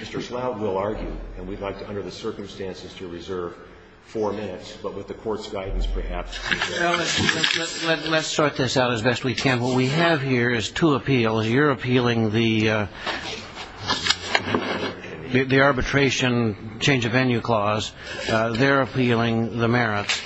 Mr. Schlaug will argue, and we'd like to, under the circumstances, to reserve four minutes, but with the court's guidance, perhaps we can. Let's sort this out as best we can. What we have here is two appeals. You're appealing the arbitration change of venue clause. They're appealing the merits.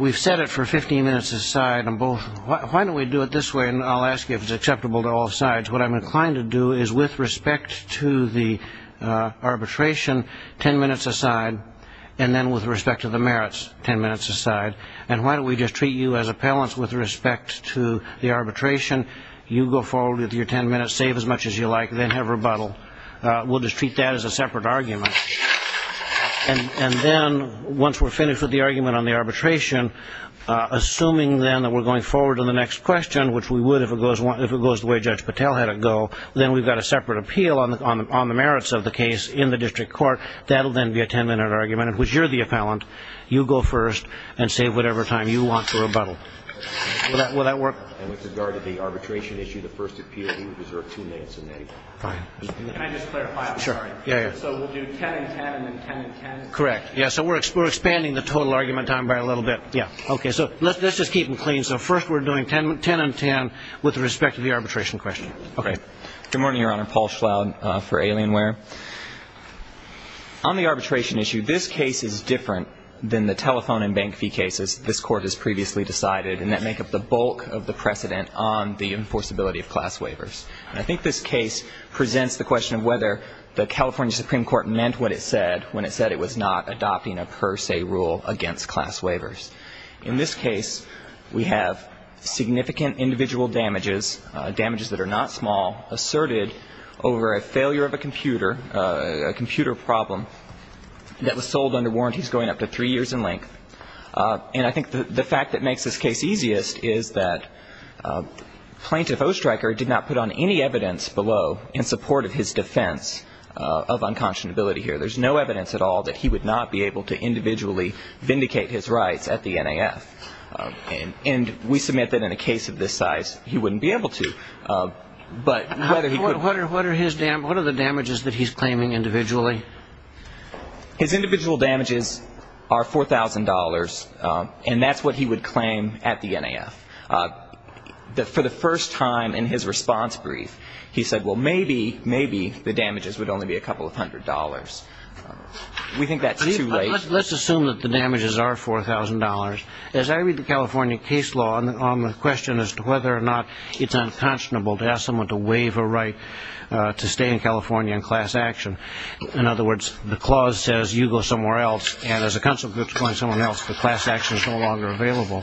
We've set it for 15 minutes a side. Why don't we do it this way, and I'll ask you if it's acceptable to all sides. What I'm inclined to do is, with respect to the arbitration, 10 minutes a side, and then with respect to the merits, 10 minutes a side. And why don't we just treat you as appellants with respect to the arbitration? You go forward with your 10 minutes, save as much as you like, then have rebuttal. We'll just treat that as a separate argument. And then, once we're finished with the argument on the arbitration, assuming then that we're going forward to the next question, which we would if it goes the way Judge Patel had it go, then we've got a separate appeal on the merits of the case in the district court. That'll then be a 10-minute argument in which you're the appellant. You go first and save whatever time you want for rebuttal. Will that work? And with regard to the arbitration issue, the first appeal, you would deserve two minutes a minute. Fine. Can I just clarify? Sure. So we'll do 10 and 10 and then 10 and 10? Correct. Yeah, so we're expanding the total argument time by a little bit. Yeah. Okay, so let's just keep them clean. So first we're doing 10 and 10 with respect to the arbitration question. Okay. Good morning, Your Honor. Paul Schloud for Alienware. On the arbitration issue, this case is different than the telephone and bank fee cases this Court has previously decided, and that make up the bulk of the precedent on the enforceability of class waivers. And I think this case presents the question of whether the California Supreme Court meant what it said when it said it was not adopting a per se rule against class waivers. In this case, we have significant individual damages, damages that are not small, asserted over a failure of a computer, a computer problem that was sold under warranties going up to three years in length. And I think the fact that makes this case easiest is that Plaintiff Oestreicher did not put on any evidence below in support of his defense of unconscionability here. There's no evidence at all that he would not be able to individually vindicate his rights at the NAF. And we submit that in a case of this size, he wouldn't be able to. What are the damages that he's claiming individually? His individual damages are $4,000, and that's what he would claim at the NAF. For the first time in his response brief, he said, well, maybe, maybe the damages would only be a couple of hundred dollars. We think that's too late. Let's assume that the damages are $4,000. As I read the California case law on the question as to whether or not it's unconscionable to ask someone to waive a right to stay in California in class action, in other words, the clause says you go somewhere else, and as a consequence, going somewhere else, the class action is no longer available.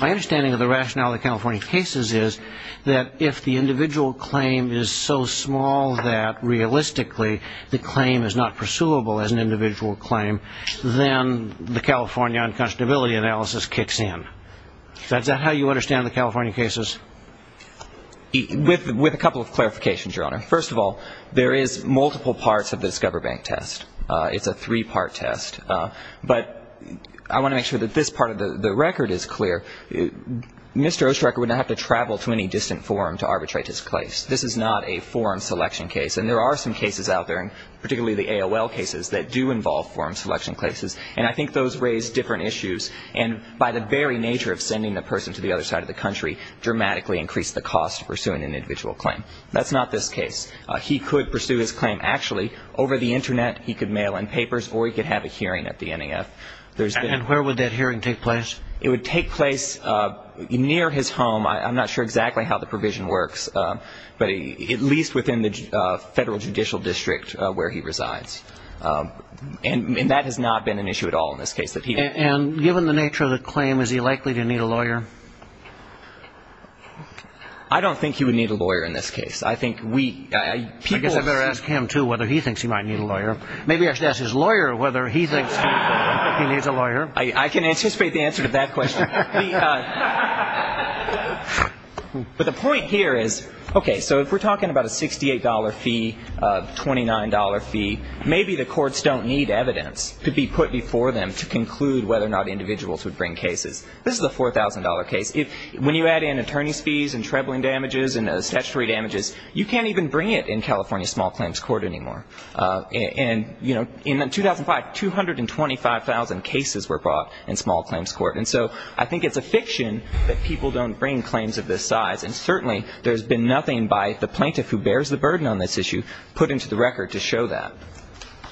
My understanding of the rationale of the California cases is that if the individual claim is so small that realistically the claim is not pursuable as an individual claim, then the California unconscionability analysis kicks in. Is that how you understand the California cases? With a couple of clarifications, Your Honor. First of all, there is multiple parts of the Discover Bank test. It's a three-part test. But I want to make sure that this part of the record is clear. Mr. Ostroker would not have to travel to any distant forum to arbitrate his case. This is not a forum selection case. And there are some cases out there, particularly the AOL cases, that do involve forum selection cases. And I think those raise different issues and by the very nature of sending the person to the other side of the country dramatically increase the cost of pursuing an individual claim. That's not this case. He could pursue his claim actually over the Internet. He could mail in papers or he could have a hearing at the NEF. And where would that hearing take place? It would take place near his home. I'm not sure exactly how the provision works, but at least within the federal judicial district where he resides. And that has not been an issue at all in this case. And given the nature of the claim, is he likely to need a lawyer? I don't think he would need a lawyer in this case. I guess I better ask him, too, whether he thinks he might need a lawyer. Maybe I should ask his lawyer whether he thinks he needs a lawyer. I can anticipate the answer to that question. But the point here is, okay, so if we're talking about a $68 fee, $29 fee, maybe the courts don't need evidence to be put before them to conclude whether or not individuals would bring cases. This is a $4,000 case. When you add in attorney's fees and trembling damages and statutory damages, you can't even bring it in California's small claims court anymore. And, you know, in 2005, 225,000 cases were brought in small claims court. And so I think it's a fiction that people don't bring claims of this size. And certainly there's been nothing by the plaintiff who bears the burden on this issue put into the record to show that.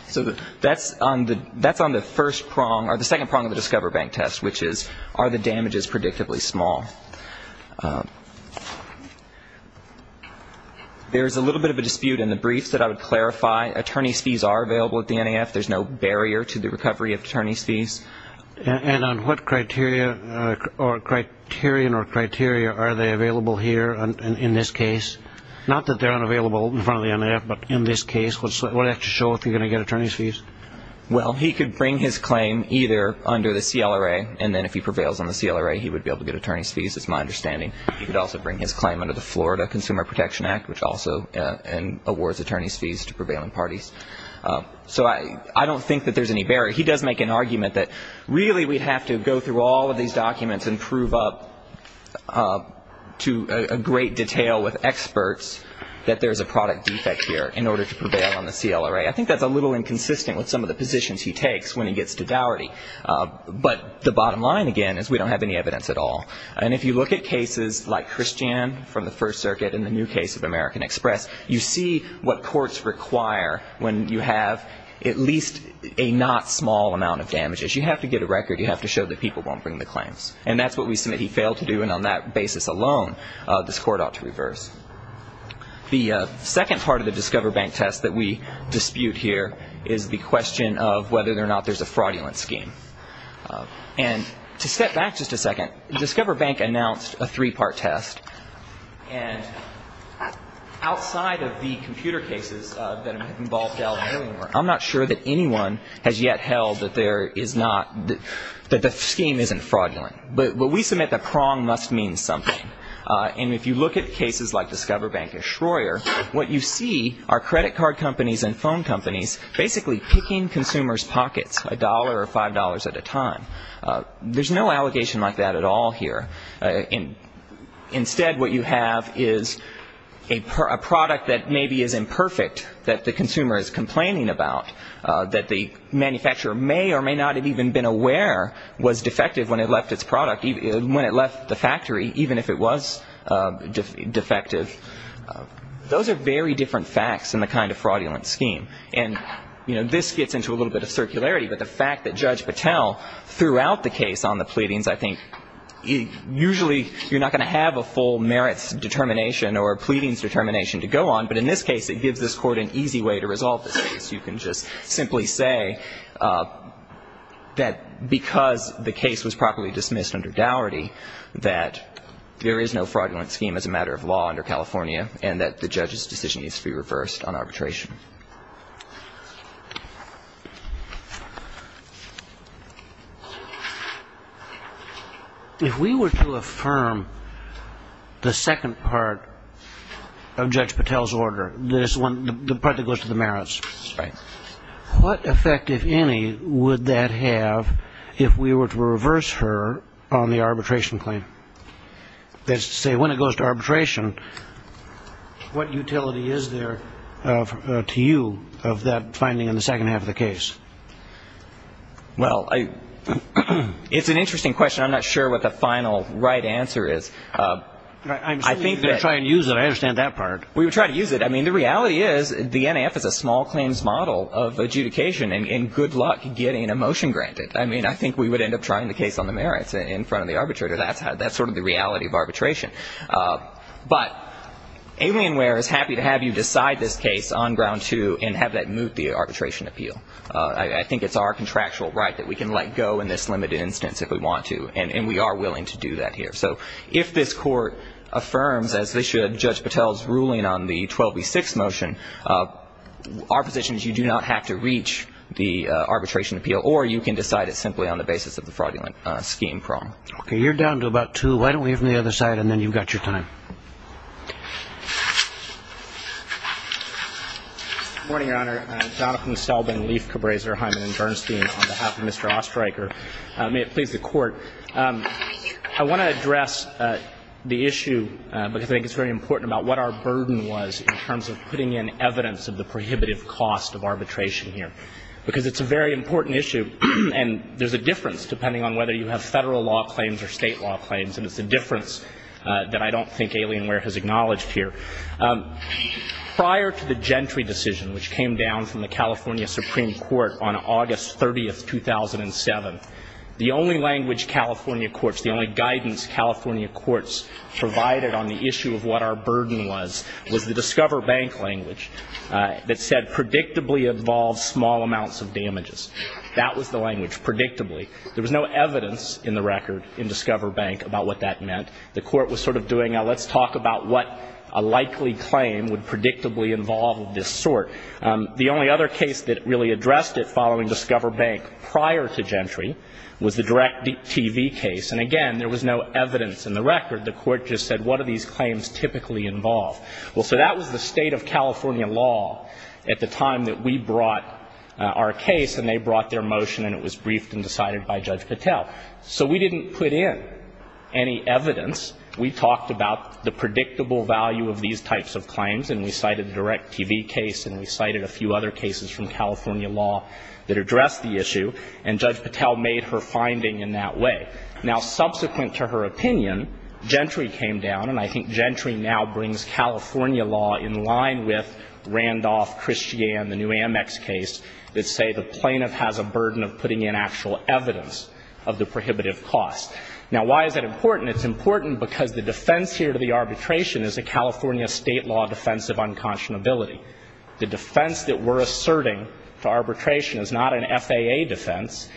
So that's on the first prong, or the second prong of the Discover Bank test, which is are the damages predictably small. There's a little bit of a dispute in the briefs that I would clarify. Attorney's fees are available at the NAF. There's no barrier to the recovery of attorney's fees. And on what criterion or criteria are they available here in this case? Not that they're unavailable in front of the NAF, but in this case. What does that have to show if you're going to get attorney's fees? Well, he could bring his claim either under the CLRA, and then if he prevails on the CLRA, he would be able to get attorney's fees, is my understanding. He could also bring his claim under the Florida Consumer Protection Act, which also awards attorney's fees to prevailing parties. So I don't think that there's any barrier. He does make an argument that really we'd have to go through all of these documents and prove up to a great detail with experts that there's a product defect here in order to prevail on the CLRA. I think that's a little inconsistent with some of the positions he takes when he gets to dowry. But the bottom line, again, is we don't have any evidence at all. And if you look at cases like Christian from the First Circuit and the new case of American Express, you see what courts require when you have at least a not small amount of damages. You have to get a record. You have to show that people won't bring the claims. And that's what we submit he failed to do. And on that basis alone, this court ought to reverse. The second part of the Discover Bank test that we dispute here is the question of whether or not there's a fraudulent scheme. And to step back just a second, Discover Bank announced a three-part test. And outside of the computer cases that involved alimony work, I'm not sure that anyone has yet held that there is not the scheme isn't fraudulent. But we submit the prong must mean something. And if you look at cases like Discover Bank and Schroer, what you see are credit card companies and phone companies basically picking consumers' pockets, a dollar or five dollars at a time. There's no allegation like that at all here. Instead, what you have is a product that maybe is imperfect, that the consumer is complaining about, that the manufacturer may or may not have even been aware was defective when it left its product, when it left the factory, even if it was defective. Those are very different facts than the kind of fraudulent scheme. And, you know, this gets into a little bit of circularity. But the fact that Judge Patel threw out the case on the pleadings, I think, usually you're not going to have a full merits determination or pleadings determination to go on. But in this case, it gives this Court an easy way to resolve this case. You can just simply say that because the case was properly dismissed under dowry, that there is no fraudulent scheme as a matter of law under California and that the judge's decision needs to be reversed on arbitration. If we were to affirm the second part of Judge Patel's order, the part that goes to the merits, what effect, if any, would that have if we were to reverse her on the arbitration claim? That is to say, when it goes to arbitration, what utility is there to you of that finding in the second half of the case? Well, it's an interesting question. I'm not sure what the final right answer is. I'm assuming you're going to try and use it. I understand that part. We would try to use it. I mean, the reality is the NAF is a small claims model of adjudication, and good luck getting a motion granted. I mean, I think we would end up trying the case on the merits in front of the arbitrator. That's sort of the reality of arbitration. But Alienware is happy to have you decide this case on ground two and have that move the arbitration appeal. I think it's our contractual right that we can let go in this limited instance if we want to, and we are willing to do that here. So if this court affirms, as they should, Judge Patel's ruling on the 12B6 motion, our position is you do not have to reach the arbitration appeal or you can decide it simply on the basis of the fraudulent scheme problem. Okay. You're down to about two. Why don't we have him on the other side, and then you've got your time. Good morning, Your Honor. Jonathan Selbin, Leif, Cabreza, Hyman, and Bernstein on behalf of Mr. Ostreicher. May it please the Court. I want to address the issue because I think it's very important about what our burden was in terms of putting in evidence of the prohibitive cost of arbitration here because it's a very important issue, and there's a difference depending on whether you have federal law claims or state law claims, and it's a difference that I don't think Alienware has acknowledged here. Prior to the Gentry decision, which came down from the California Supreme Court on August 30, 2007, the only language California courts, the only guidance California courts provided on the issue of what our burden was, was the Discover Bank language that said predictably involves small amounts of damages. That was the language, predictably. There was no evidence in the record in Discover Bank about what that meant. The Court was sort of doing a let's talk about what a likely claim would predictably involve of this sort. The only other case that really addressed it following Discover Bank prior to Gentry was the DirecTV case, and again, there was no evidence in the record. The Court just said, what do these claims typically involve? Well, so that was the state of California law at the time that we brought our case, and they brought their motion, and it was briefed and decided by Judge Patel. So we didn't put in any evidence. We talked about the predictable value of these types of claims, and we cited the DirecTV case, and we cited a few other cases from California law that addressed the issue, and Judge Patel made her finding in that way. Now, subsequent to her opinion, Gentry came down, and I think Gentry now brings California law in line with Randolph, Christiane, the new Amex case, that say the plaintiff has a burden of putting in actual evidence of the prohibitive cost. Now, why is that important? It's important because the defense here to the arbitration is a California state law defense of unconscionability. The defense that we're asserting to arbitration is not an FAA defense.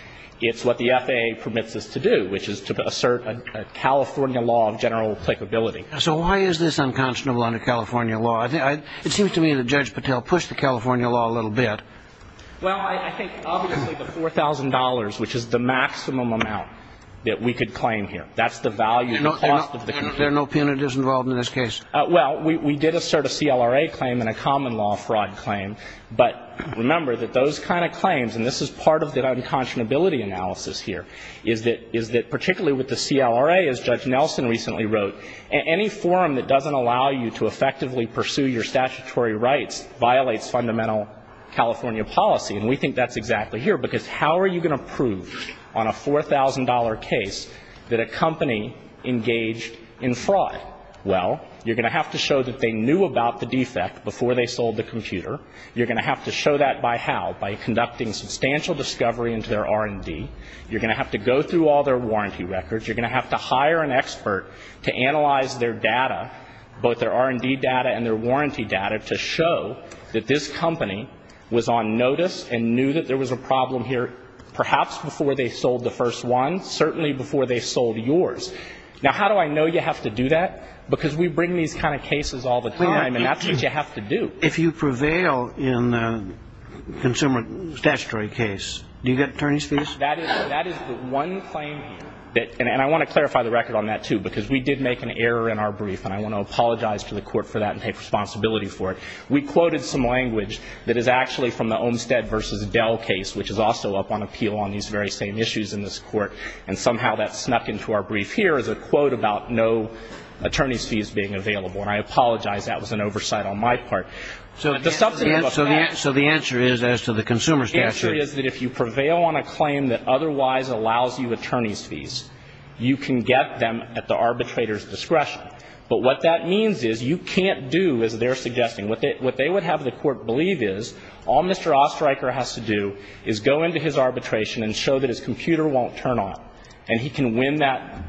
It's what the FAA permits us to do, which is to assert a California law of general applicability. So why is this unconscionable under California law? It seems to me that Judge Patel pushed the California law a little bit. Well, I think obviously the $4,000, which is the maximum amount that we could claim here, that's the value of the cost of the complaint. There are no penalties involved in this case? Well, we did assert a CLRA claim and a common law fraud claim, but remember that those kind of claims, and this is part of the unconscionability analysis here, is that particularly with the CLRA, as Judge Nelson recently wrote, any forum that doesn't allow you to effectively pursue your statutory rights violates fundamental California policy. And we think that's exactly here, because how are you going to prove on a $4,000 case that a company engaged in fraud? Well, you're going to have to show that they knew about the defect before they sold the computer. You're going to have to show that by how? By conducting substantial discovery into their R&D. You're going to have to go through all their warranty records. You're going to have to hire an expert to analyze their data, both their R&D data and their warranty data, to show that this company was on notice and knew that there was a problem here perhaps before they sold the first one, certainly before they sold yours. Now, how do I know you have to do that? Because we bring these kind of cases all the time, and that's what you have to do. If you prevail in a consumer statutory case, do you get attorney's fees? That is the one claim, and I want to clarify the record on that, too, because we did make an error in our brief, and I want to apologize to the court for that and take responsibility for it. We quoted some language that is actually from the Olmstead v. Dell case, which is also up on appeal on these very same issues in this court, and somehow that snuck into our brief here as a quote about no attorney's fees being available. And I apologize. That was an oversight on my part. But the substantive of that ---- So the answer is as to the consumer statutory ---- The answer is that if you prevail on a claim that otherwise allows you attorney's fees, you can get them at the arbitrator's discretion. But what that means is you can't do as they're suggesting. What they would have the court believe is all Mr. Oesterreicher has to do is go into his arbitration and show that his computer won't turn on, and he can win that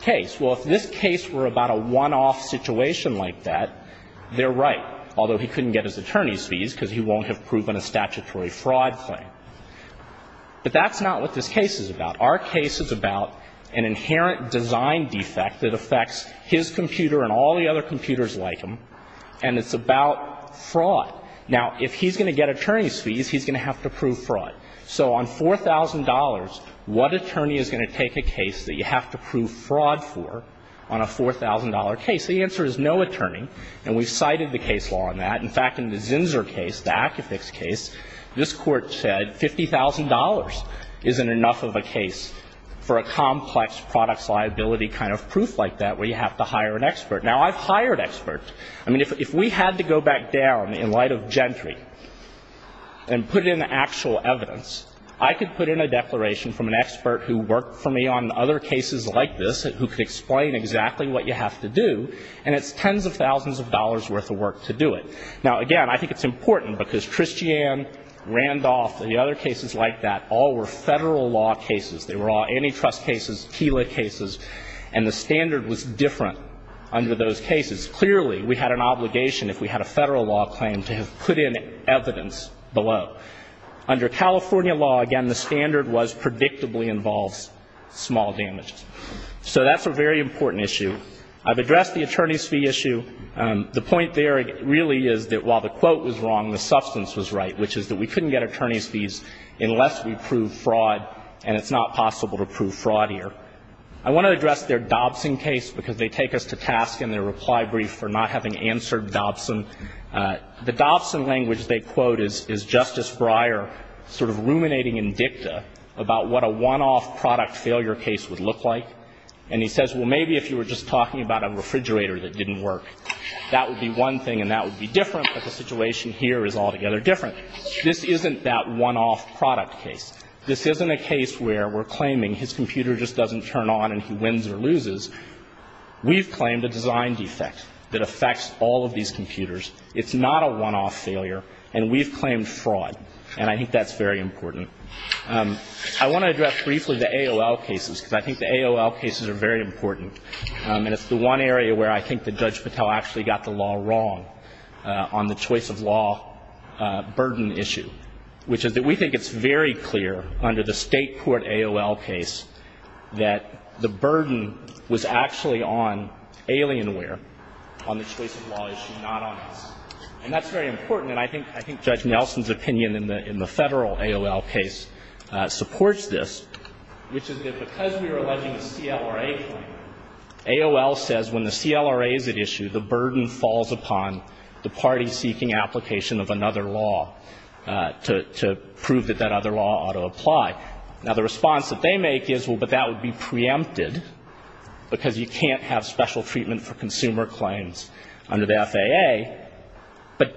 case. Well, if this case were about a one-off situation like that, they're right, although he couldn't get his attorney's fees because he won't have proven a statutory fraud claim. But that's not what this case is about. Our case is about an inherent design defect that affects his computer and all the other computers like him, and it's about fraud. Now, if he's going to get attorney's fees, he's going to have to prove fraud. So on $4,000, what attorney is going to take a case that you have to prove fraud for on a $4,000 case? The answer is no attorney. And we've cited the case law on that. In fact, in the Zinsser case, the Akifix case, this Court said $50,000 isn't enough of a case for a complex products liability kind of proof like that where you have to hire an expert. Now, I've hired experts. I mean, if we had to go back down in light of Gentry and put in actual evidence, I could put in a declaration from an expert who worked for me on other cases like this who could explain exactly what you have to do, and it's tens of thousands of dollars' worth of work to do it. Now, again, I think it's important because Christiane, Randolph, and the other cases like that, all were Federal law cases. They were all antitrust cases, KELA cases, and the standard was different under those cases. Clearly, we had an obligation if we had a Federal law claim to have put in evidence below. Under California law, again, the standard was predictably involves small damages. So that's a very important issue. I've addressed the attorney's fee issue. The point there really is that while the quote was wrong, the substance was right, which is that we couldn't get attorney's fees unless we proved fraud, and it's not possible to prove fraud here. I want to address their Dobson case because they take us to task in their reply brief for not having answered Dobson. The Dobson language they quote is Justice Breyer sort of ruminating in dicta about what a one-off product failure case would look like. And he says, well, maybe if you were just talking about a refrigerator that didn't work, that would be one thing and that would be different, but the situation here is altogether different. This isn't that one-off product case. This isn't a case where we're claiming his computer just doesn't turn on and he wins or loses. We've claimed a design defect that affects all of these computers. It's not a one-off failure, and we've claimed fraud, and I think that's very important. I want to address briefly the AOL cases because I think the AOL cases are very important, and it's the one area where I think that Judge Patel actually got the law wrong on the choice of law burden issue, which is that we think it's very clear under the State court AOL case that the burden was actually on Alienware, on the choice of law issue, not on us. And that's very important, and I think Judge Nelson's opinion in the Federal AOL case supports this, which is that because we were alleging a CLRA claim, AOL says when the CLRA is at issue, the burden falls upon the party seeking application of another law to prove that that other law ought to apply. Now, the response that they make is, well, but that would be preempted because you can't have special treatment for consumer claims under the FAA.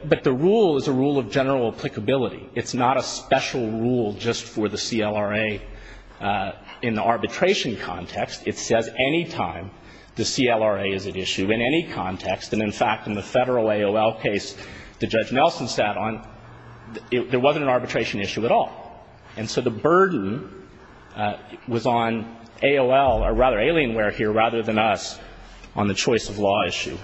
But the rule is a rule of general applicability. It's not a special rule just for the CLRA in the arbitration context. It says any time the CLRA is at issue in any context, and in fact, in the Federal AOL case that Judge Nelson sat on, there wasn't an arbitration issue at all. And so the burden was on AOL, or rather Alienware here, rather than us, on the choice of law issue.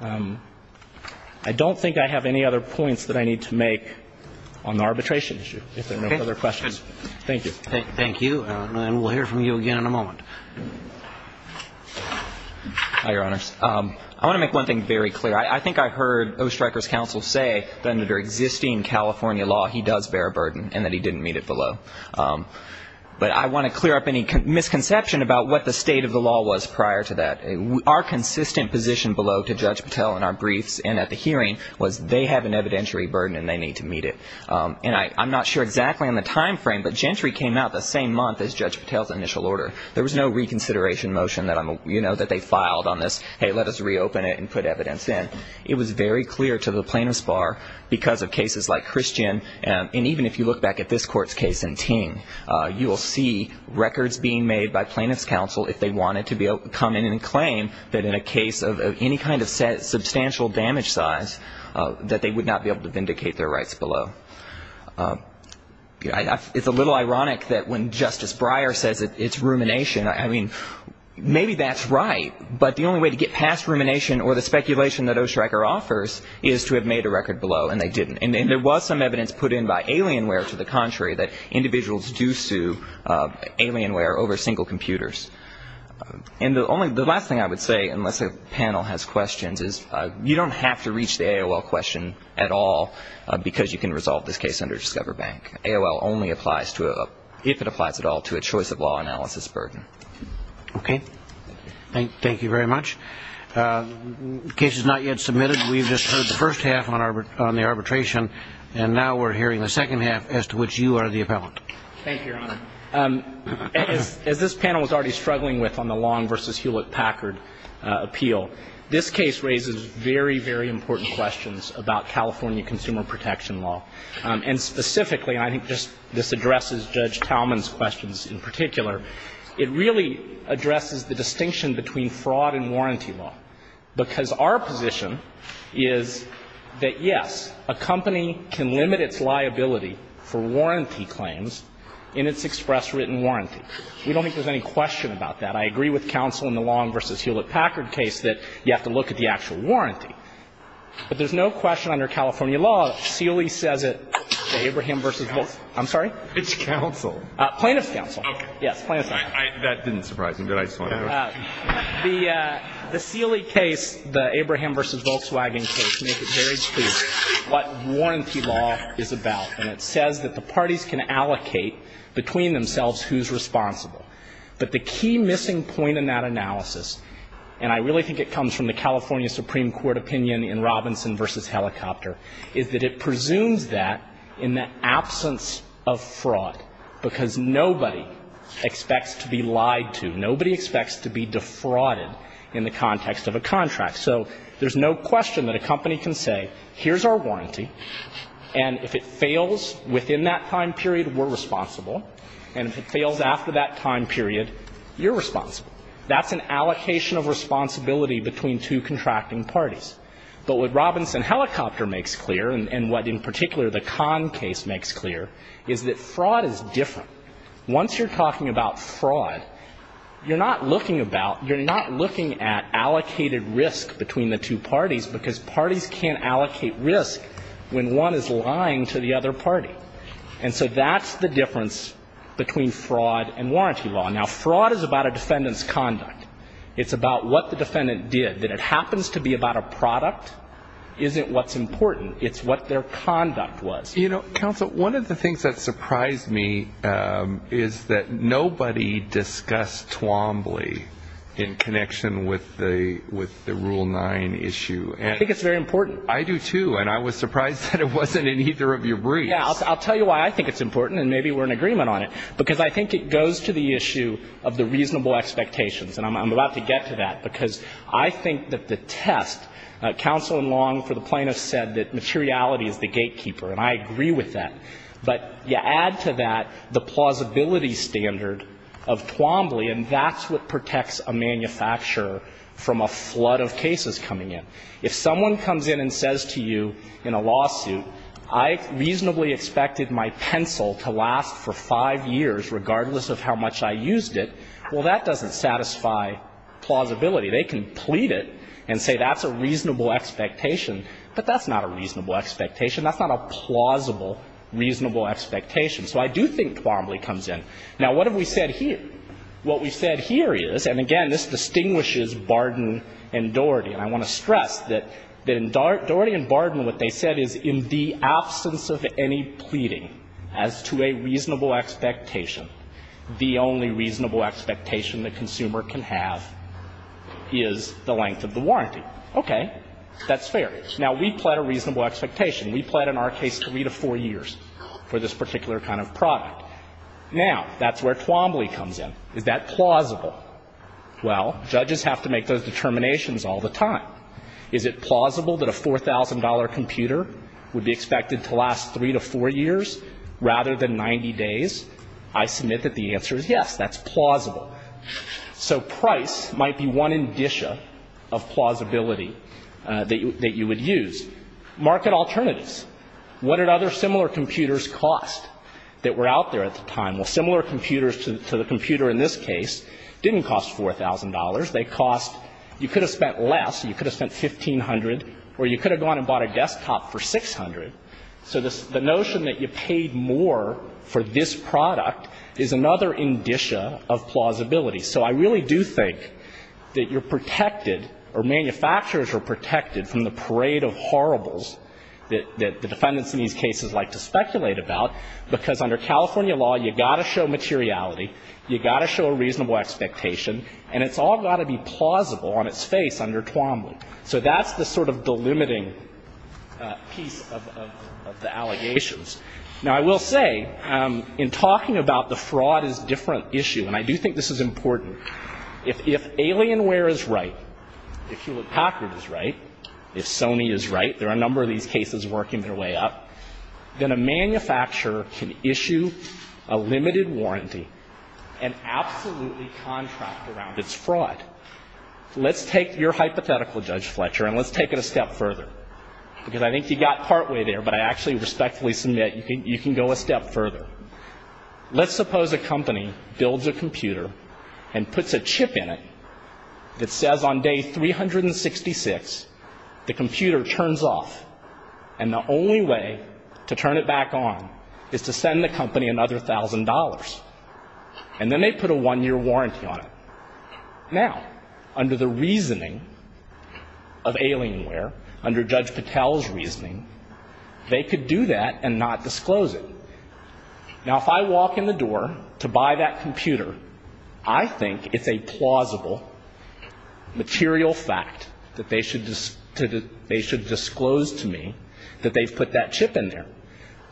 I don't think I have any other points that I need to make on the arbitration issue, if there are no other questions. Thank you. Thank you. And we'll hear from you again in a moment. Hi, Your Honors. I want to make one thing very clear. I think I heard O. Stryker's counsel say that under existing California law, he does bear a burden and that he didn't meet it below. But I want to clear up any misconception about what the state of the law was prior to that. Our consistent position below to Judge Patel in our briefs and at the hearing was they have an evidentiary burden and they need to meet it. And I'm not sure exactly on the time frame, but Gentry came out the same month as Judge Patel's initial order. There was no reconsideration motion that they filed on this, hey, let us reopen it and put evidence in. It was very clear to the plaintiff's bar because of cases like Christian, and even if you look back at this court's case in Ting, you will see records being made by plaintiff's counsel if they wanted to come in and claim that in a case of any kind of substantial damage size, that they would not be able to vindicate their rights below. It's a little ironic that when Justice Breyer says it's rumination, I mean, maybe that's right, but the only way to get past rumination or the speculation that O. Stryker offers is to have made a record below and they didn't. And there was some evidence put in by Alienware to the contrary that individuals do sue Alienware over single computers. And the last thing I would say, unless a panel has questions, is you don't have to reach the AOL question at all because you can resolve this case under Discover Bank. AOL only applies to, if it applies at all, to a choice of law analysis burden. Okay. Thank you very much. The case is not yet submitted. We've just heard the first half on the arbitration, and now we're hearing the second half as to which you are the appellant. Thank you, Your Honor. As this panel was already struggling with on the Long v. Hewlett-Packard appeal, this case raises very, very important questions about California consumer protection law. And specifically, and I think this addresses Judge Talman's questions in particular, it really addresses the distinction between fraud and warranty law because our position is that, yes, a company can limit its liability for warranty claims in its express written warranty. We don't think there's any question about that. I agree with counsel in the Long v. Hewlett-Packard case that you have to look at the actual warranty. But there's no question under California law, Sealy says it, Abraham v. Volkswagen. I'm sorry? It's counsel. Plaintiff's counsel. Okay. Yes, plaintiff's counsel. That didn't surprise me, but I just wanted to know. The Sealy case, the Abraham v. Volkswagen case, makes it very clear what warranty law is about. And it says that the parties can allocate between themselves who's responsible. But the key missing point in that analysis, and I really think it comes from the California Supreme Court opinion in Robinson v. Helicopter, is that it presumes that in the absence of fraud, because nobody expects to be lied to. Nobody expects to be defrauded in the context of a contract. So there's no question that a company can say, here's our warranty, and if it fails within that time period, we're responsible. And if it fails after that time period, you're responsible. That's an allocation of responsibility between two contracting parties. But what Robinson v. Helicopter makes clear, and what in particular the Kahn case makes clear, is that fraud is different. Once you're talking about fraud, you're not looking about, you're not looking at allocated risk between the two parties, because parties can't allocate risk when one is lying to the other party. And so that's the difference between fraud and warranty law. Now, fraud is about a defendant's conduct. It's about what the defendant did. That it happens to be about a product isn't what's important. It's what their conduct was. You know, counsel, one of the things that surprised me is that nobody discussed Twombly in connection with the Rule 9 issue. I think it's very important. I do, too. And I was surprised that it wasn't in either of your briefs. Yeah, I'll tell you why I think it's important, and maybe we're in agreement on it, because I think it goes to the issue of the reasonable expectations. And I'm about to get to that, because I think that the test, counsel in Long for the plaintiff said that materiality is the gatekeeper, and I agree with that. But you add to that the plausibility standard of Twombly, and that's what protects a manufacturer from a flood of cases coming in. If someone comes in and says to you in a lawsuit, I reasonably expected my pencil to last for five years regardless of how much I used it, well, that doesn't satisfy plausibility. They can plead it and say that's a reasonable expectation, but that's not a reasonable expectation. That's not a plausible reasonable expectation. So I do think Twombly comes in. Now, what have we said here? What we've said here is, and again, this distinguishes Barden and Doherty, and I want to stress that in Doherty and Barden, what they said is in the absence of any pleading as to a reasonable expectation, the only reasonable expectation the consumer can have is the length of the warranty. Okay. That's fair. Now, we pled a reasonable expectation. We pled in our case three to four years for this particular kind of product. Now, that's where Twombly comes in. Is that plausible? Well, judges have to make those determinations all the time. Is it plausible that a $4,000 computer would be expected to last three to four years rather than 90 days? I submit that the answer is yes. That's plausible. So price might be one indicia of plausibility that you would use. Market alternatives. What did other similar computers cost that were out there at the time? Well, similar computers to the computer in this case didn't cost $4,000. They cost you could have spent less. You could have spent $1,500, or you could have gone and bought a desktop for $600. So the notion that you paid more for this product is another indicia of plausibility. So I really do think that you're protected, or manufacturers are protected, from the parade of horribles that the defendants in these cases like to speculate about, because under California law, you've got to show materiality, you've got to show a reasonable expectation, and it's all got to be plausible on its face under Twombly. So that's the sort of delimiting piece of the allegations. Now, I will say, in talking about the fraud as a different issue, and I do think this is important, if Alienware is right, if Hewlett-Packard is right, if Sony is right, there are a number of these cases working their way up, then a manufacturer can issue a limited warranty and absolutely contract around its fraud. Let's take your hypothetical, Judge Fletcher, and let's take it a step further, because I think you got partway there, but I actually respectfully submit you can go a step further. Let's suppose a company builds a computer and puts a chip in it that says on day 366, the computer turns off, and the only way to turn it back on is to send the company another $1,000, and then they put a one-year warranty on it. Now, under the reasoning of Alienware, under Judge Patel's reasoning, they could do that and not disclose it. Now, if I walk in the door to buy that computer, I think it's a plausible material fact that they should disclose to me that they've put that chip in there.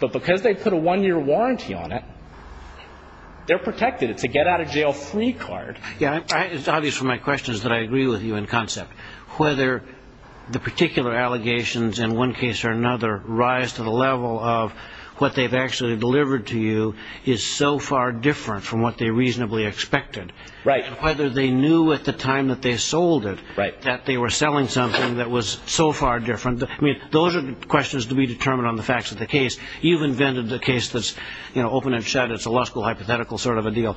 But because they put a one-year warranty on it, they're protected. It's a get-out-of-jail-free card. It's obvious from my questions that I agree with you in concept. Whether the particular allegations in one case or another rise to the level of what they've actually delivered to you is so far different from what they reasonably expected. Whether they knew at the time that they sold it that they were selling something that was so far different. Those are questions to be determined on the facts of the case. You've invented the case that's open and shut. It's a law school hypothetical sort of a deal.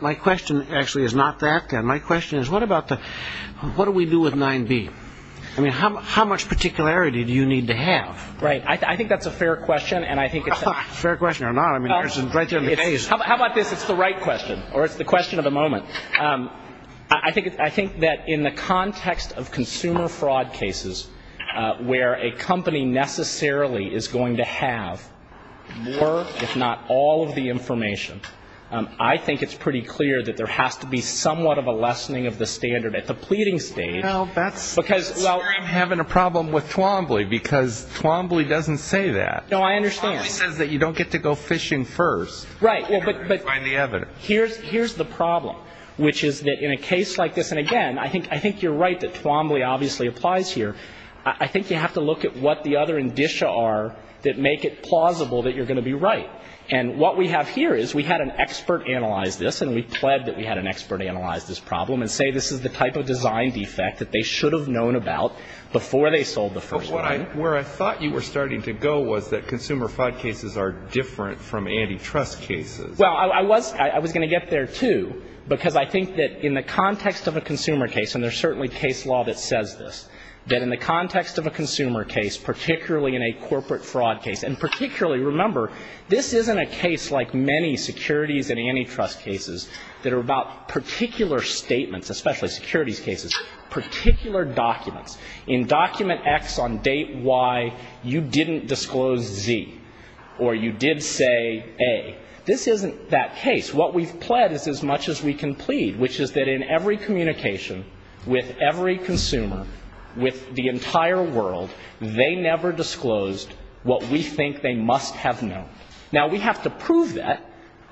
My question, actually, is not that. My question is, what do we do with 9B? I mean, how much particularity do you need to have? Right. I think that's a fair question. Fair question or not, I mean, it's right there in the case. How about this? It's the right question, or it's the question of the moment. I think that in the context of consumer fraud cases where a company necessarily is going to have more, if not all, of the information, I think it's pretty clear that there has to be somewhat of a lessening of the standard at the pleading stage. Well, that's where I'm having a problem with Twombly, because Twombly doesn't say that. No, I understand. Twombly says that you don't get to go fishing first. Right. Here's the problem, which is that in a case like this, and, again, I think you're right that Twombly obviously applies here. I think you have to look at what the other indicia are that make it plausible that you're going to be right. And what we have here is we had an expert analyze this, and we pled that we had an expert analyze this problem and say this is the type of design defect that they should have known about before they sold the first one. But where I thought you were starting to go was that consumer fraud cases are different from antitrust cases. Well, I was going to get there, too, because I think that in the context of a consumer case, and there's certainly case law that says this, that in the context of a consumer case, particularly in a corporate fraud case, and particularly, remember, this isn't a case like many securities and antitrust cases that are about particular statements, especially securities cases, particular documents. In document X on date Y, you didn't disclose Z, or you did say A. This isn't that case. What we've pled is as much as we can plead, which is that in every communication with every consumer, with the entire world, they never disclosed what we think they must have known. Now, we have to prove that.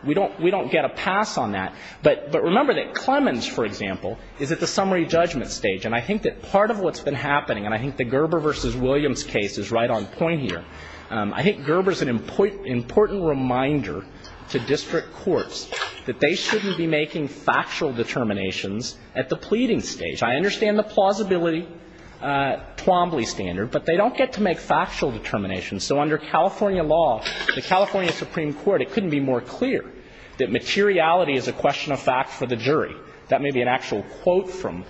We don't get a pass on that. But remember that Clemens, for example, is at the summary judgment stage. And I think that part of what's been happening, and I think the Gerber v. Williams case is right on point here, I think Gerber's an important reminder to district courts that they shouldn't be making factual determinations at the pleading stage. I understand the plausibility Twombly standard, but they don't get to make factual determinations. So under California law, the California Supreme Court, it couldn't be more clear that materiality is a question of fact for the jury. That may be an actual quote from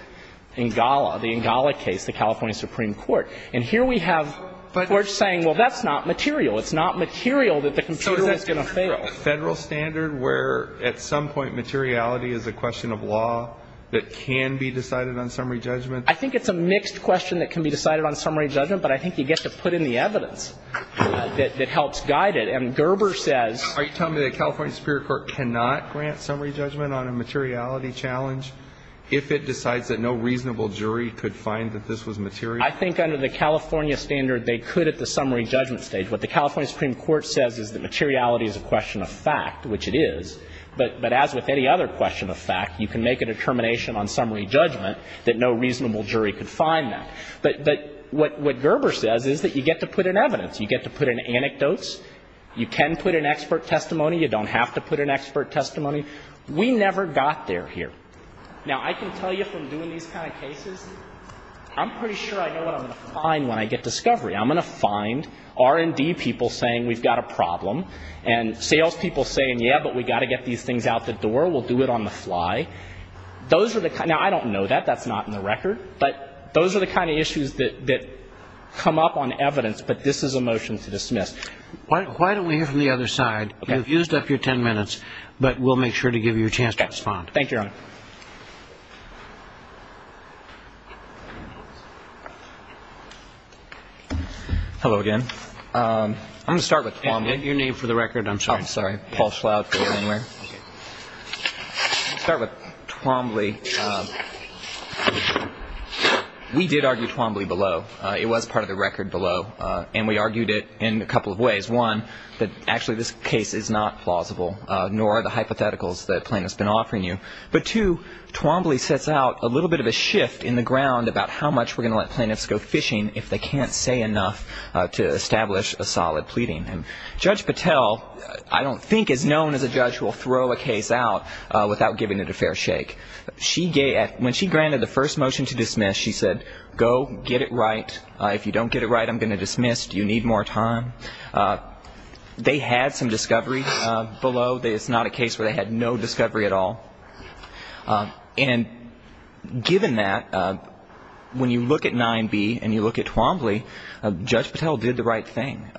N'Gala, the N'Gala case, the California Supreme Court. And here we have Forge saying, well, that's not material. It's not material that the computer is going to fail. Federal standard, where at some point materiality is a question of law that can be decided on summary judgment. I think it's a mixed question that can be decided on summary judgment, but I think you get to put in the evidence that helps guide it. And Gerber says. Are you telling me that California Supreme Court cannot grant summary judgment on a materiality challenge if it decides that no reasonable jury could find that this was material? I think under the California standard, they could at the summary judgment stage. What the California Supreme Court says is that materiality is a question of fact, which it is, but as with any other question of fact, you can make a determination on summary judgment that no reasonable jury could find that. But what Gerber says is that you get to put in evidence. You get to put in anecdotes. You can put in expert testimony. You don't have to put in expert testimony. We never got there here. Now, I can tell you from doing these kind of cases, I'm pretty sure I know what I'm going to find when I get discovery. I'm going to find R&D people saying we've got a problem and salespeople saying, yeah, but we've got to get these things out the door. We'll do it on the fly. Those are the kind of – now, I don't know that. That's not in the record. But those are the kind of issues that come up on evidence. But this is a motion to dismiss. Why don't we hear from the other side? You've used up your ten minutes, but we'll make sure to give you a chance to respond. Thank you, Your Honor. Thank you. Hello again. I'm going to start with Twombly. Your name for the record. I'm sorry. I'm sorry. Paul Schlout. I'll start with Twombly. We did argue Twombly below. It was part of the record below, and we argued it in a couple of ways. One, that actually this case is not plausible, nor are the hypotheticals that Plaintiff's been offering you. But two, Twombly sets out a little bit of a shift in the ground about how much we're going to let plaintiffs go fishing if they can't say enough to establish a solid pleading. Judge Patel, I don't think, is known as a judge who will throw a case out without giving it a fair shake. When she granted the first motion to dismiss, she said, go get it right. If you don't get it right, I'm going to dismiss. Do you need more time? They had some discovery below. It's not a case where they had no discovery at all. And given that, when you look at 9B and you look at Twombly, Judge Patel did the right thing.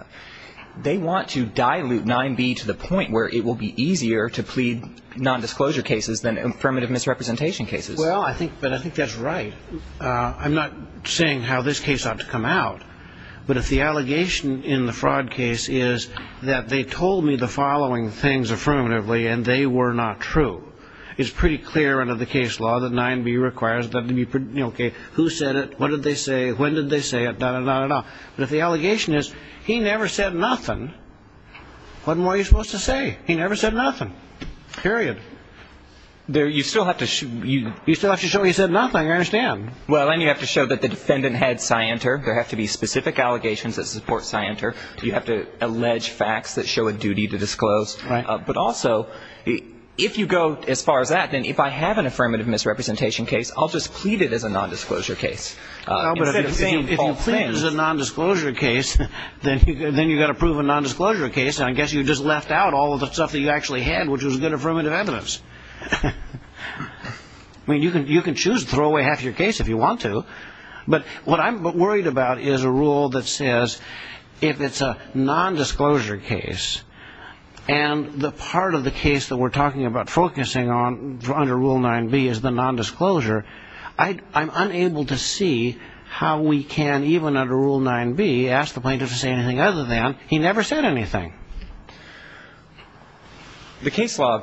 They want to dilute 9B to the point where it will be easier to plead nondisclosure cases than affirmative misrepresentation cases. Well, I think that's right. I'm not saying how this case ought to come out. But if the allegation in the fraud case is that they told me the following things affirmatively and they were not true, it's pretty clear under the case law that 9B requires them to be okay. Who said it? What did they say? When did they say it? Da-da-da-da-da. But if the allegation is he never said nothing, what more are you supposed to say? He never said nothing. Period. You still have to show he said nothing. I understand. Well, and you have to show that the defendant had scienter. There have to be specific allegations that support scienter. You have to allege facts that show a duty to disclose. Right. But also, if you go as far as that, then if I have an affirmative misrepresentation case, I'll just plead it as a nondisclosure case. No, but if you plead it as a nondisclosure case, then you've got to prove a nondisclosure case, and I guess you just left out all of the stuff that you actually had, which was good affirmative evidence. I mean, you can choose to throw away half your case if you want to, but what I'm worried about is a rule that says if it's a nondisclosure case, and the part of the case that we're talking about focusing on under Rule 9b is the nondisclosure, I'm unable to see how we can, even under Rule 9b, ask the plaintiff to say anything other than he never said anything. The case law,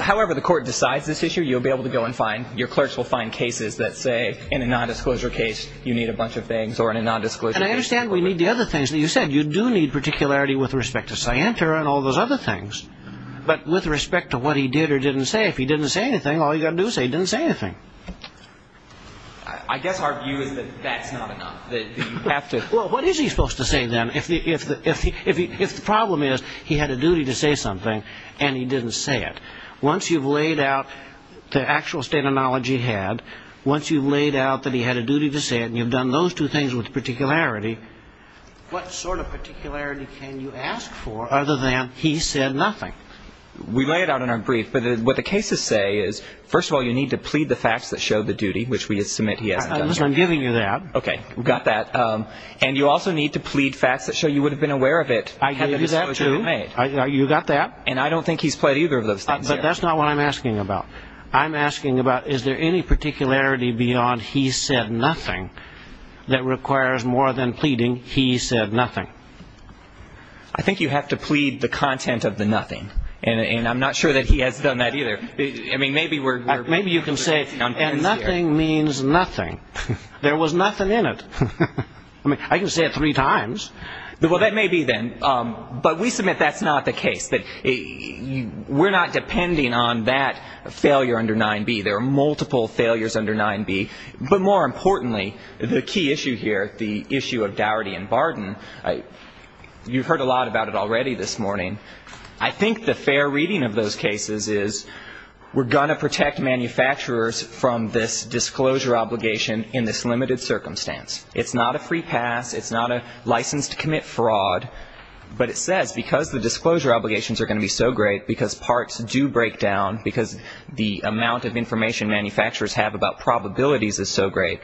however the court decides this issue, you'll be able to go and find, your clerks will find cases that say in a nondisclosure case you need a bunch of things or in a nondisclosure case. And I understand we need the other things that you said. You do need particularity with respect to scienter and all those other things, but with respect to what he did or didn't say, if he didn't say anything, all you've got to do is say he didn't say anything. I guess our view is that that's not enough, that you have to. Well, what is he supposed to say then if the problem is he had a duty to say something and he didn't say it? Once you've laid out the actual state of knowledge he had, once you've laid out that he had a duty to say it and you've done those two things with particularity, what sort of particularity can you ask for other than he said nothing? We lay it out in our brief, but what the cases say is, first of all, you need to plead the facts that show the duty, which we submit he hasn't done. I'm giving you that. Okay, we've got that. And you also need to plead facts that show you would have been aware of it had the disclosure been made. You've got that. And I don't think he's pled either of those things. But that's not what I'm asking about. I'm asking about is there any particularity beyond he said nothing that requires more than pleading he said nothing? I think you have to plead the content of the nothing, and I'm not sure that he has done that either. Maybe you can say, and nothing means nothing. There was nothing in it. I mean, I can say it three times. Well, that may be then. But we submit that's not the case, that we're not depending on that failure under 9b. There are multiple failures under 9b. But more importantly, the key issue here, the issue of Dougherty and Barden, you've heard a lot about it already this morning. I think the fair reading of those cases is we're going to protect manufacturers from this disclosure obligation in this limited circumstance. It's not a free pass. It's not a license to commit fraud. But it says because the disclosure obligations are going to be so great, because parts do break down, because the amount of information manufacturers have about probabilities is so great,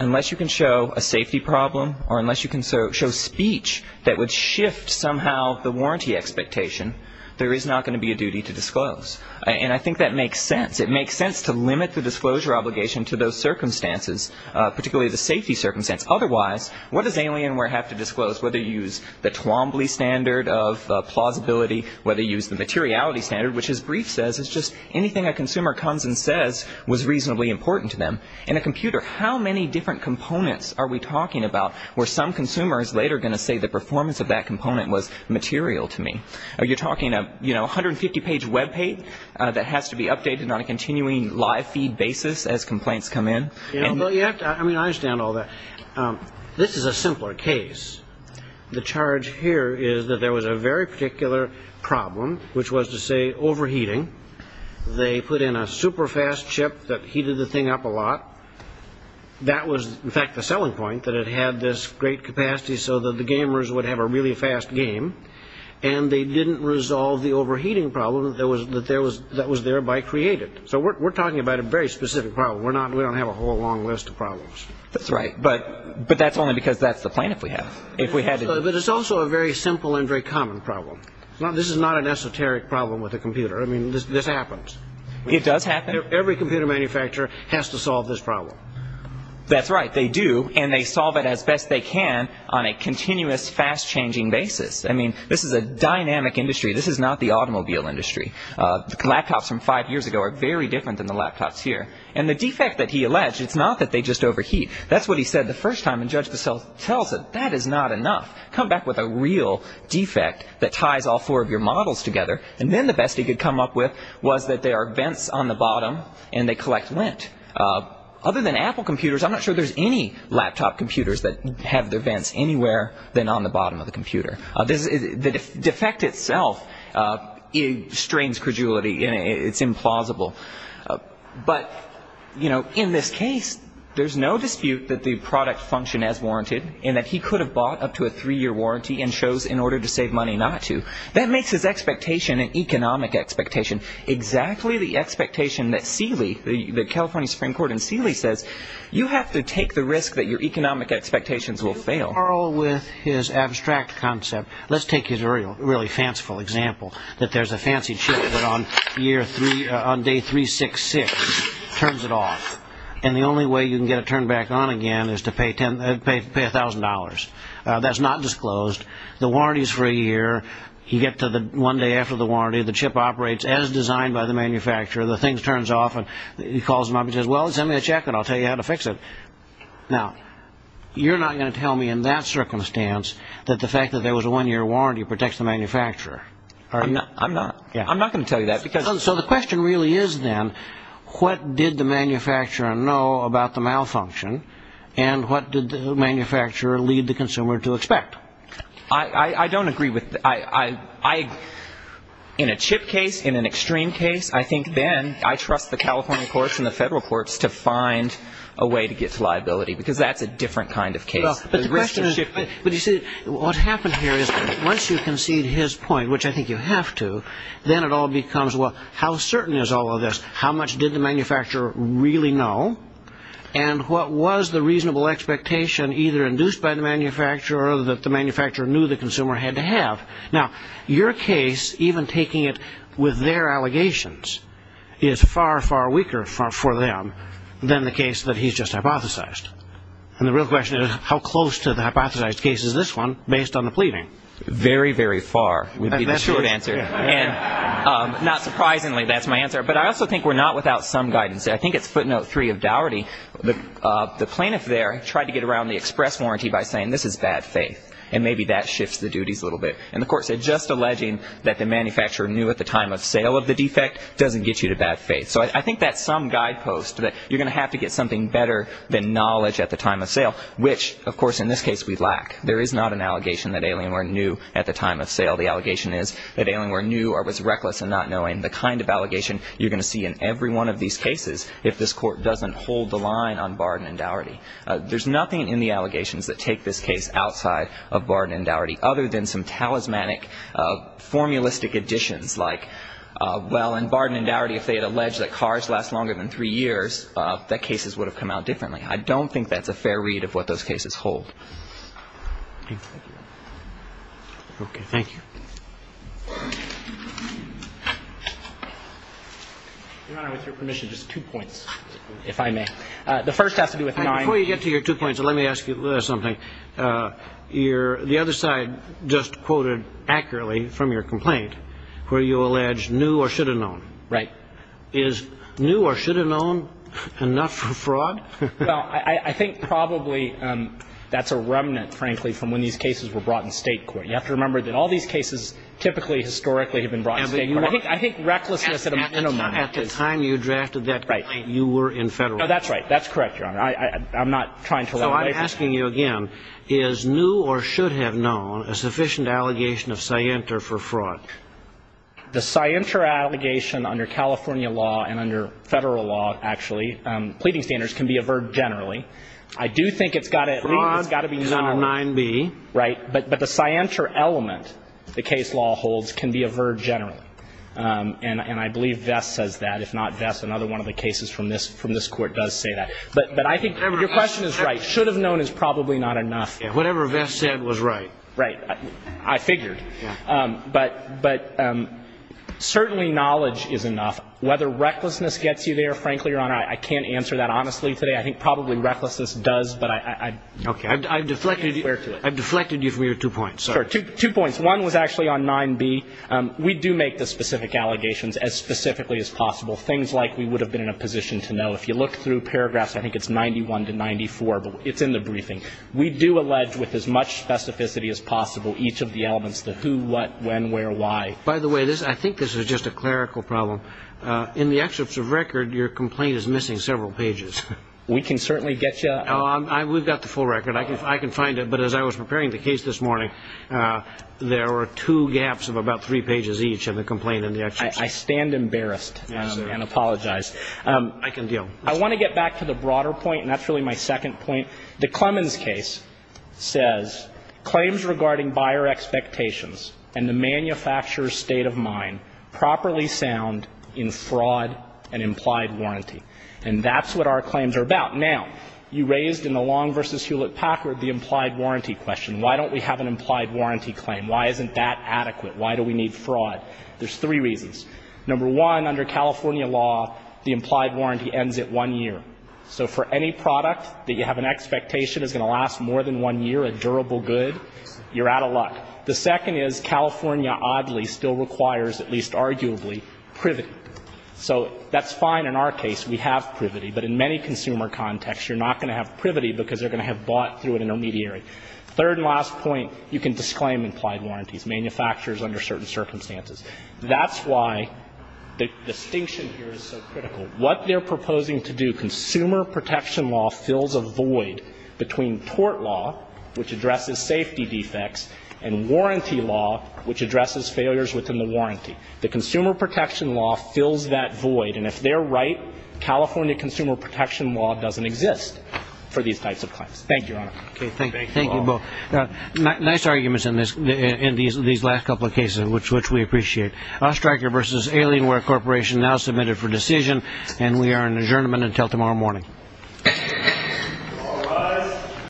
unless you can show a safety problem or unless you can show speech that would shift somehow the warranty expectation, there is not going to be a duty to disclose. And I think that makes sense. It makes sense to limit the disclosure obligation to those circumstances, particularly the safety circumstance. Otherwise, what does Alienware have to disclose? Whether you use the Twombly standard of plausibility, whether you use the materiality standard, which his brief says is just anything a consumer comes and says was reasonably important to them. In a computer, how many different components are we talking about where some consumer is later going to say the performance of that component was material to me? Are you talking a 150-page Web page that has to be updated on a continuing live feed basis as complaints come in? I mean, I understand all that. This is a simpler case. The charge here is that there was a very particular problem, which was to say overheating. They put in a super-fast chip that heated the thing up a lot. That was, in fact, the selling point, that it had this great capacity so that the gamers would have a really fast game. And they didn't resolve the overheating problem that was thereby created. So we're talking about a very specific problem. We don't have a whole long list of problems. That's right. But that's only because that's the plan that we have. But it's also a very simple and very common problem. This is not an esoteric problem with a computer. I mean, this happens. It does happen. Every computer manufacturer has to solve this problem. That's right. They do, and they solve it as best they can on a continuous, fast-changing basis. I mean, this is a dynamic industry. This is not the automobile industry. The laptops from five years ago are very different than the laptops here. And the defect that he alleged, it's not that they just overheat. That's what he said the first time, and Judge DeSalle tells it. That is not enough. Come back with a real defect that ties all four of your models together. And then the best he could come up with was that there are vents on the bottom, and they collect lint. Other than Apple computers, I'm not sure there's any laptop computers that have their vents anywhere than on the bottom of the computer. The defect itself strains credulity, and it's implausible. But, you know, in this case, there's no dispute that the product functioned as warranted and that he could have bought up to a three-year warranty and chose in order to save money not to. That makes his expectation an economic expectation, exactly the expectation that Seeley, the California Supreme Court, and Seeley says you have to take the risk that your economic expectations will fail. Carl, with his abstract concept, let's take his really fanciful example, that there's a fancy chip that on day 366 turns it off, and the only way you can get it turned back on again is to pay $1,000. That's not disclosed. The warranty is for a year. You get to the one day after the warranty. The chip operates as designed by the manufacturer. The thing turns off, and he calls them up and says, well, send me a check, and I'll tell you how to fix it. Now, you're not going to tell me in that circumstance that the fact that there was a one-year warranty protects the manufacturer. I'm not going to tell you that. So the question really is then what did the manufacturer know about the malfunction, and what did the manufacturer lead the consumer to expect? I don't agree with that. In a chip case, in an extreme case, I think then I trust the California courts and the federal courts to find a way to get to liability because that's a different kind of case. But you see, what happened here is once you concede his point, which I think you have to, then it all becomes, well, how certain is all of this? How much did the manufacturer really know, and what was the reasonable expectation either induced by the manufacturer or that the manufacturer knew the consumer had to have? Now, your case, even taking it with their allegations, is far, far weaker for them than the case that he's just hypothesized. And the real question is how close to the hypothesized case is this one based on the pleading? Very, very far would be the short answer. And not surprisingly, that's my answer. But I also think we're not without some guidance. I think it's footnote three of Dougherty. The plaintiff there tried to get around the express warranty by saying this is bad faith, and maybe that shifts the duties a little bit. And the court said just alleging that the manufacturer knew at the time of sale of the defect doesn't get you to bad faith. So I think that's some guidepost that you're going to have to get something better than knowledge at the time of sale, which, of course, in this case we lack. There is not an allegation that Alienware knew at the time of sale. The allegation is that Alienware knew or was reckless in not knowing. The kind of allegation you're going to see in every one of these cases if this court doesn't hold the line on Barden and Dougherty. There's nothing in the allegations that take this case outside of Barden and Dougherty other than some talismanic, formulistic additions like, well, in Barden and Dougherty, if they had alleged that cars last longer than three years, that cases would have come out differently. I don't think that's a fair read of what those cases hold. Thank you. Okay. Thank you. Your Honor, with your permission, just two points, if I may. The first has to do with nine. Before you get to your two points, let me ask you something. The other side, just quoted accurately from your complaint, where you allege knew or should have known. Right. Is knew or should have known enough for fraud? Well, I think probably that's a remnant, frankly, from when these cases were brought in state court. You have to remember that all these cases typically historically have been brought in state court. I think recklessness at a minimum. At the time you drafted that complaint, you were in federal court. That's right. That's correct, Your Honor. So I'm asking you again, is knew or should have known a sufficient allegation of scienter for fraud? The scienter allegation under California law and under federal law, actually, pleading standards can be averred generally. I do think it's got to be known. Fraud, 9b. Right. But the scienter element the case law holds can be averred generally. And I believe Vess says that. If not Vess, another one of the cases from this court does say that. But I think your question is right. Should have known is probably not enough. Whatever Vess said was right. Right. I figured. But certainly knowledge is enough. Whether recklessness gets you there, frankly, Your Honor, I can't answer that honestly today. I think probably recklessness does, but I'm not aware to it. I've deflected you from your two points. Sure. Two points. One was actually on 9b. We do make the specific allegations as specifically as possible, things like we would have been in a position to know. If you look through paragraphs, I think it's 91 to 94, but it's in the briefing. We do allege with as much specificity as possible each of the elements, the who, what, when, where, why. By the way, I think this is just a clerical problem. In the excerpts of record, your complaint is missing several pages. We can certainly get you. We've got the full record. I can find it. But as I was preparing the case this morning, there were two gaps of about three pages each in the complaint and the excerpts. I stand embarrassed and apologize. I can deal. I want to get back to the broader point, and that's really my second point. The Clemens case says claims regarding buyer expectations and the manufacturer's state of mind properly sound in fraud and implied warranty. And that's what our claims are about. Now, you raised in the Long v. Hewlett-Packard the implied warranty question. Why don't we have an implied warranty claim? Why isn't that adequate? Why do we need fraud? There's three reasons. Number one, under California law, the implied warranty ends at one year. So for any product that you have an expectation is going to last more than one year, a durable good, you're out of luck. The second is California, oddly, still requires, at least arguably, privity. So that's fine in our case. We have privity. But in many consumer contexts, you're not going to have privity because they're going to have bought through an intermediary. Third and last point, you can disclaim implied warranties, manufacturers under certain circumstances. That's why the distinction here is so critical. What they're proposing to do, consumer protection law fills a void between tort law, which addresses safety defects, and warranty law, which addresses failures within the warranty. The consumer protection law fills that void. And if they're right, California consumer protection law doesn't exist for these types of claims. Thank you, Your Honor. Thank you both. Nice arguments in these last couple of cases, which we appreciate. Ostrager v. Alienware Corporation now submitted for decision, and we are adjournment until tomorrow morning.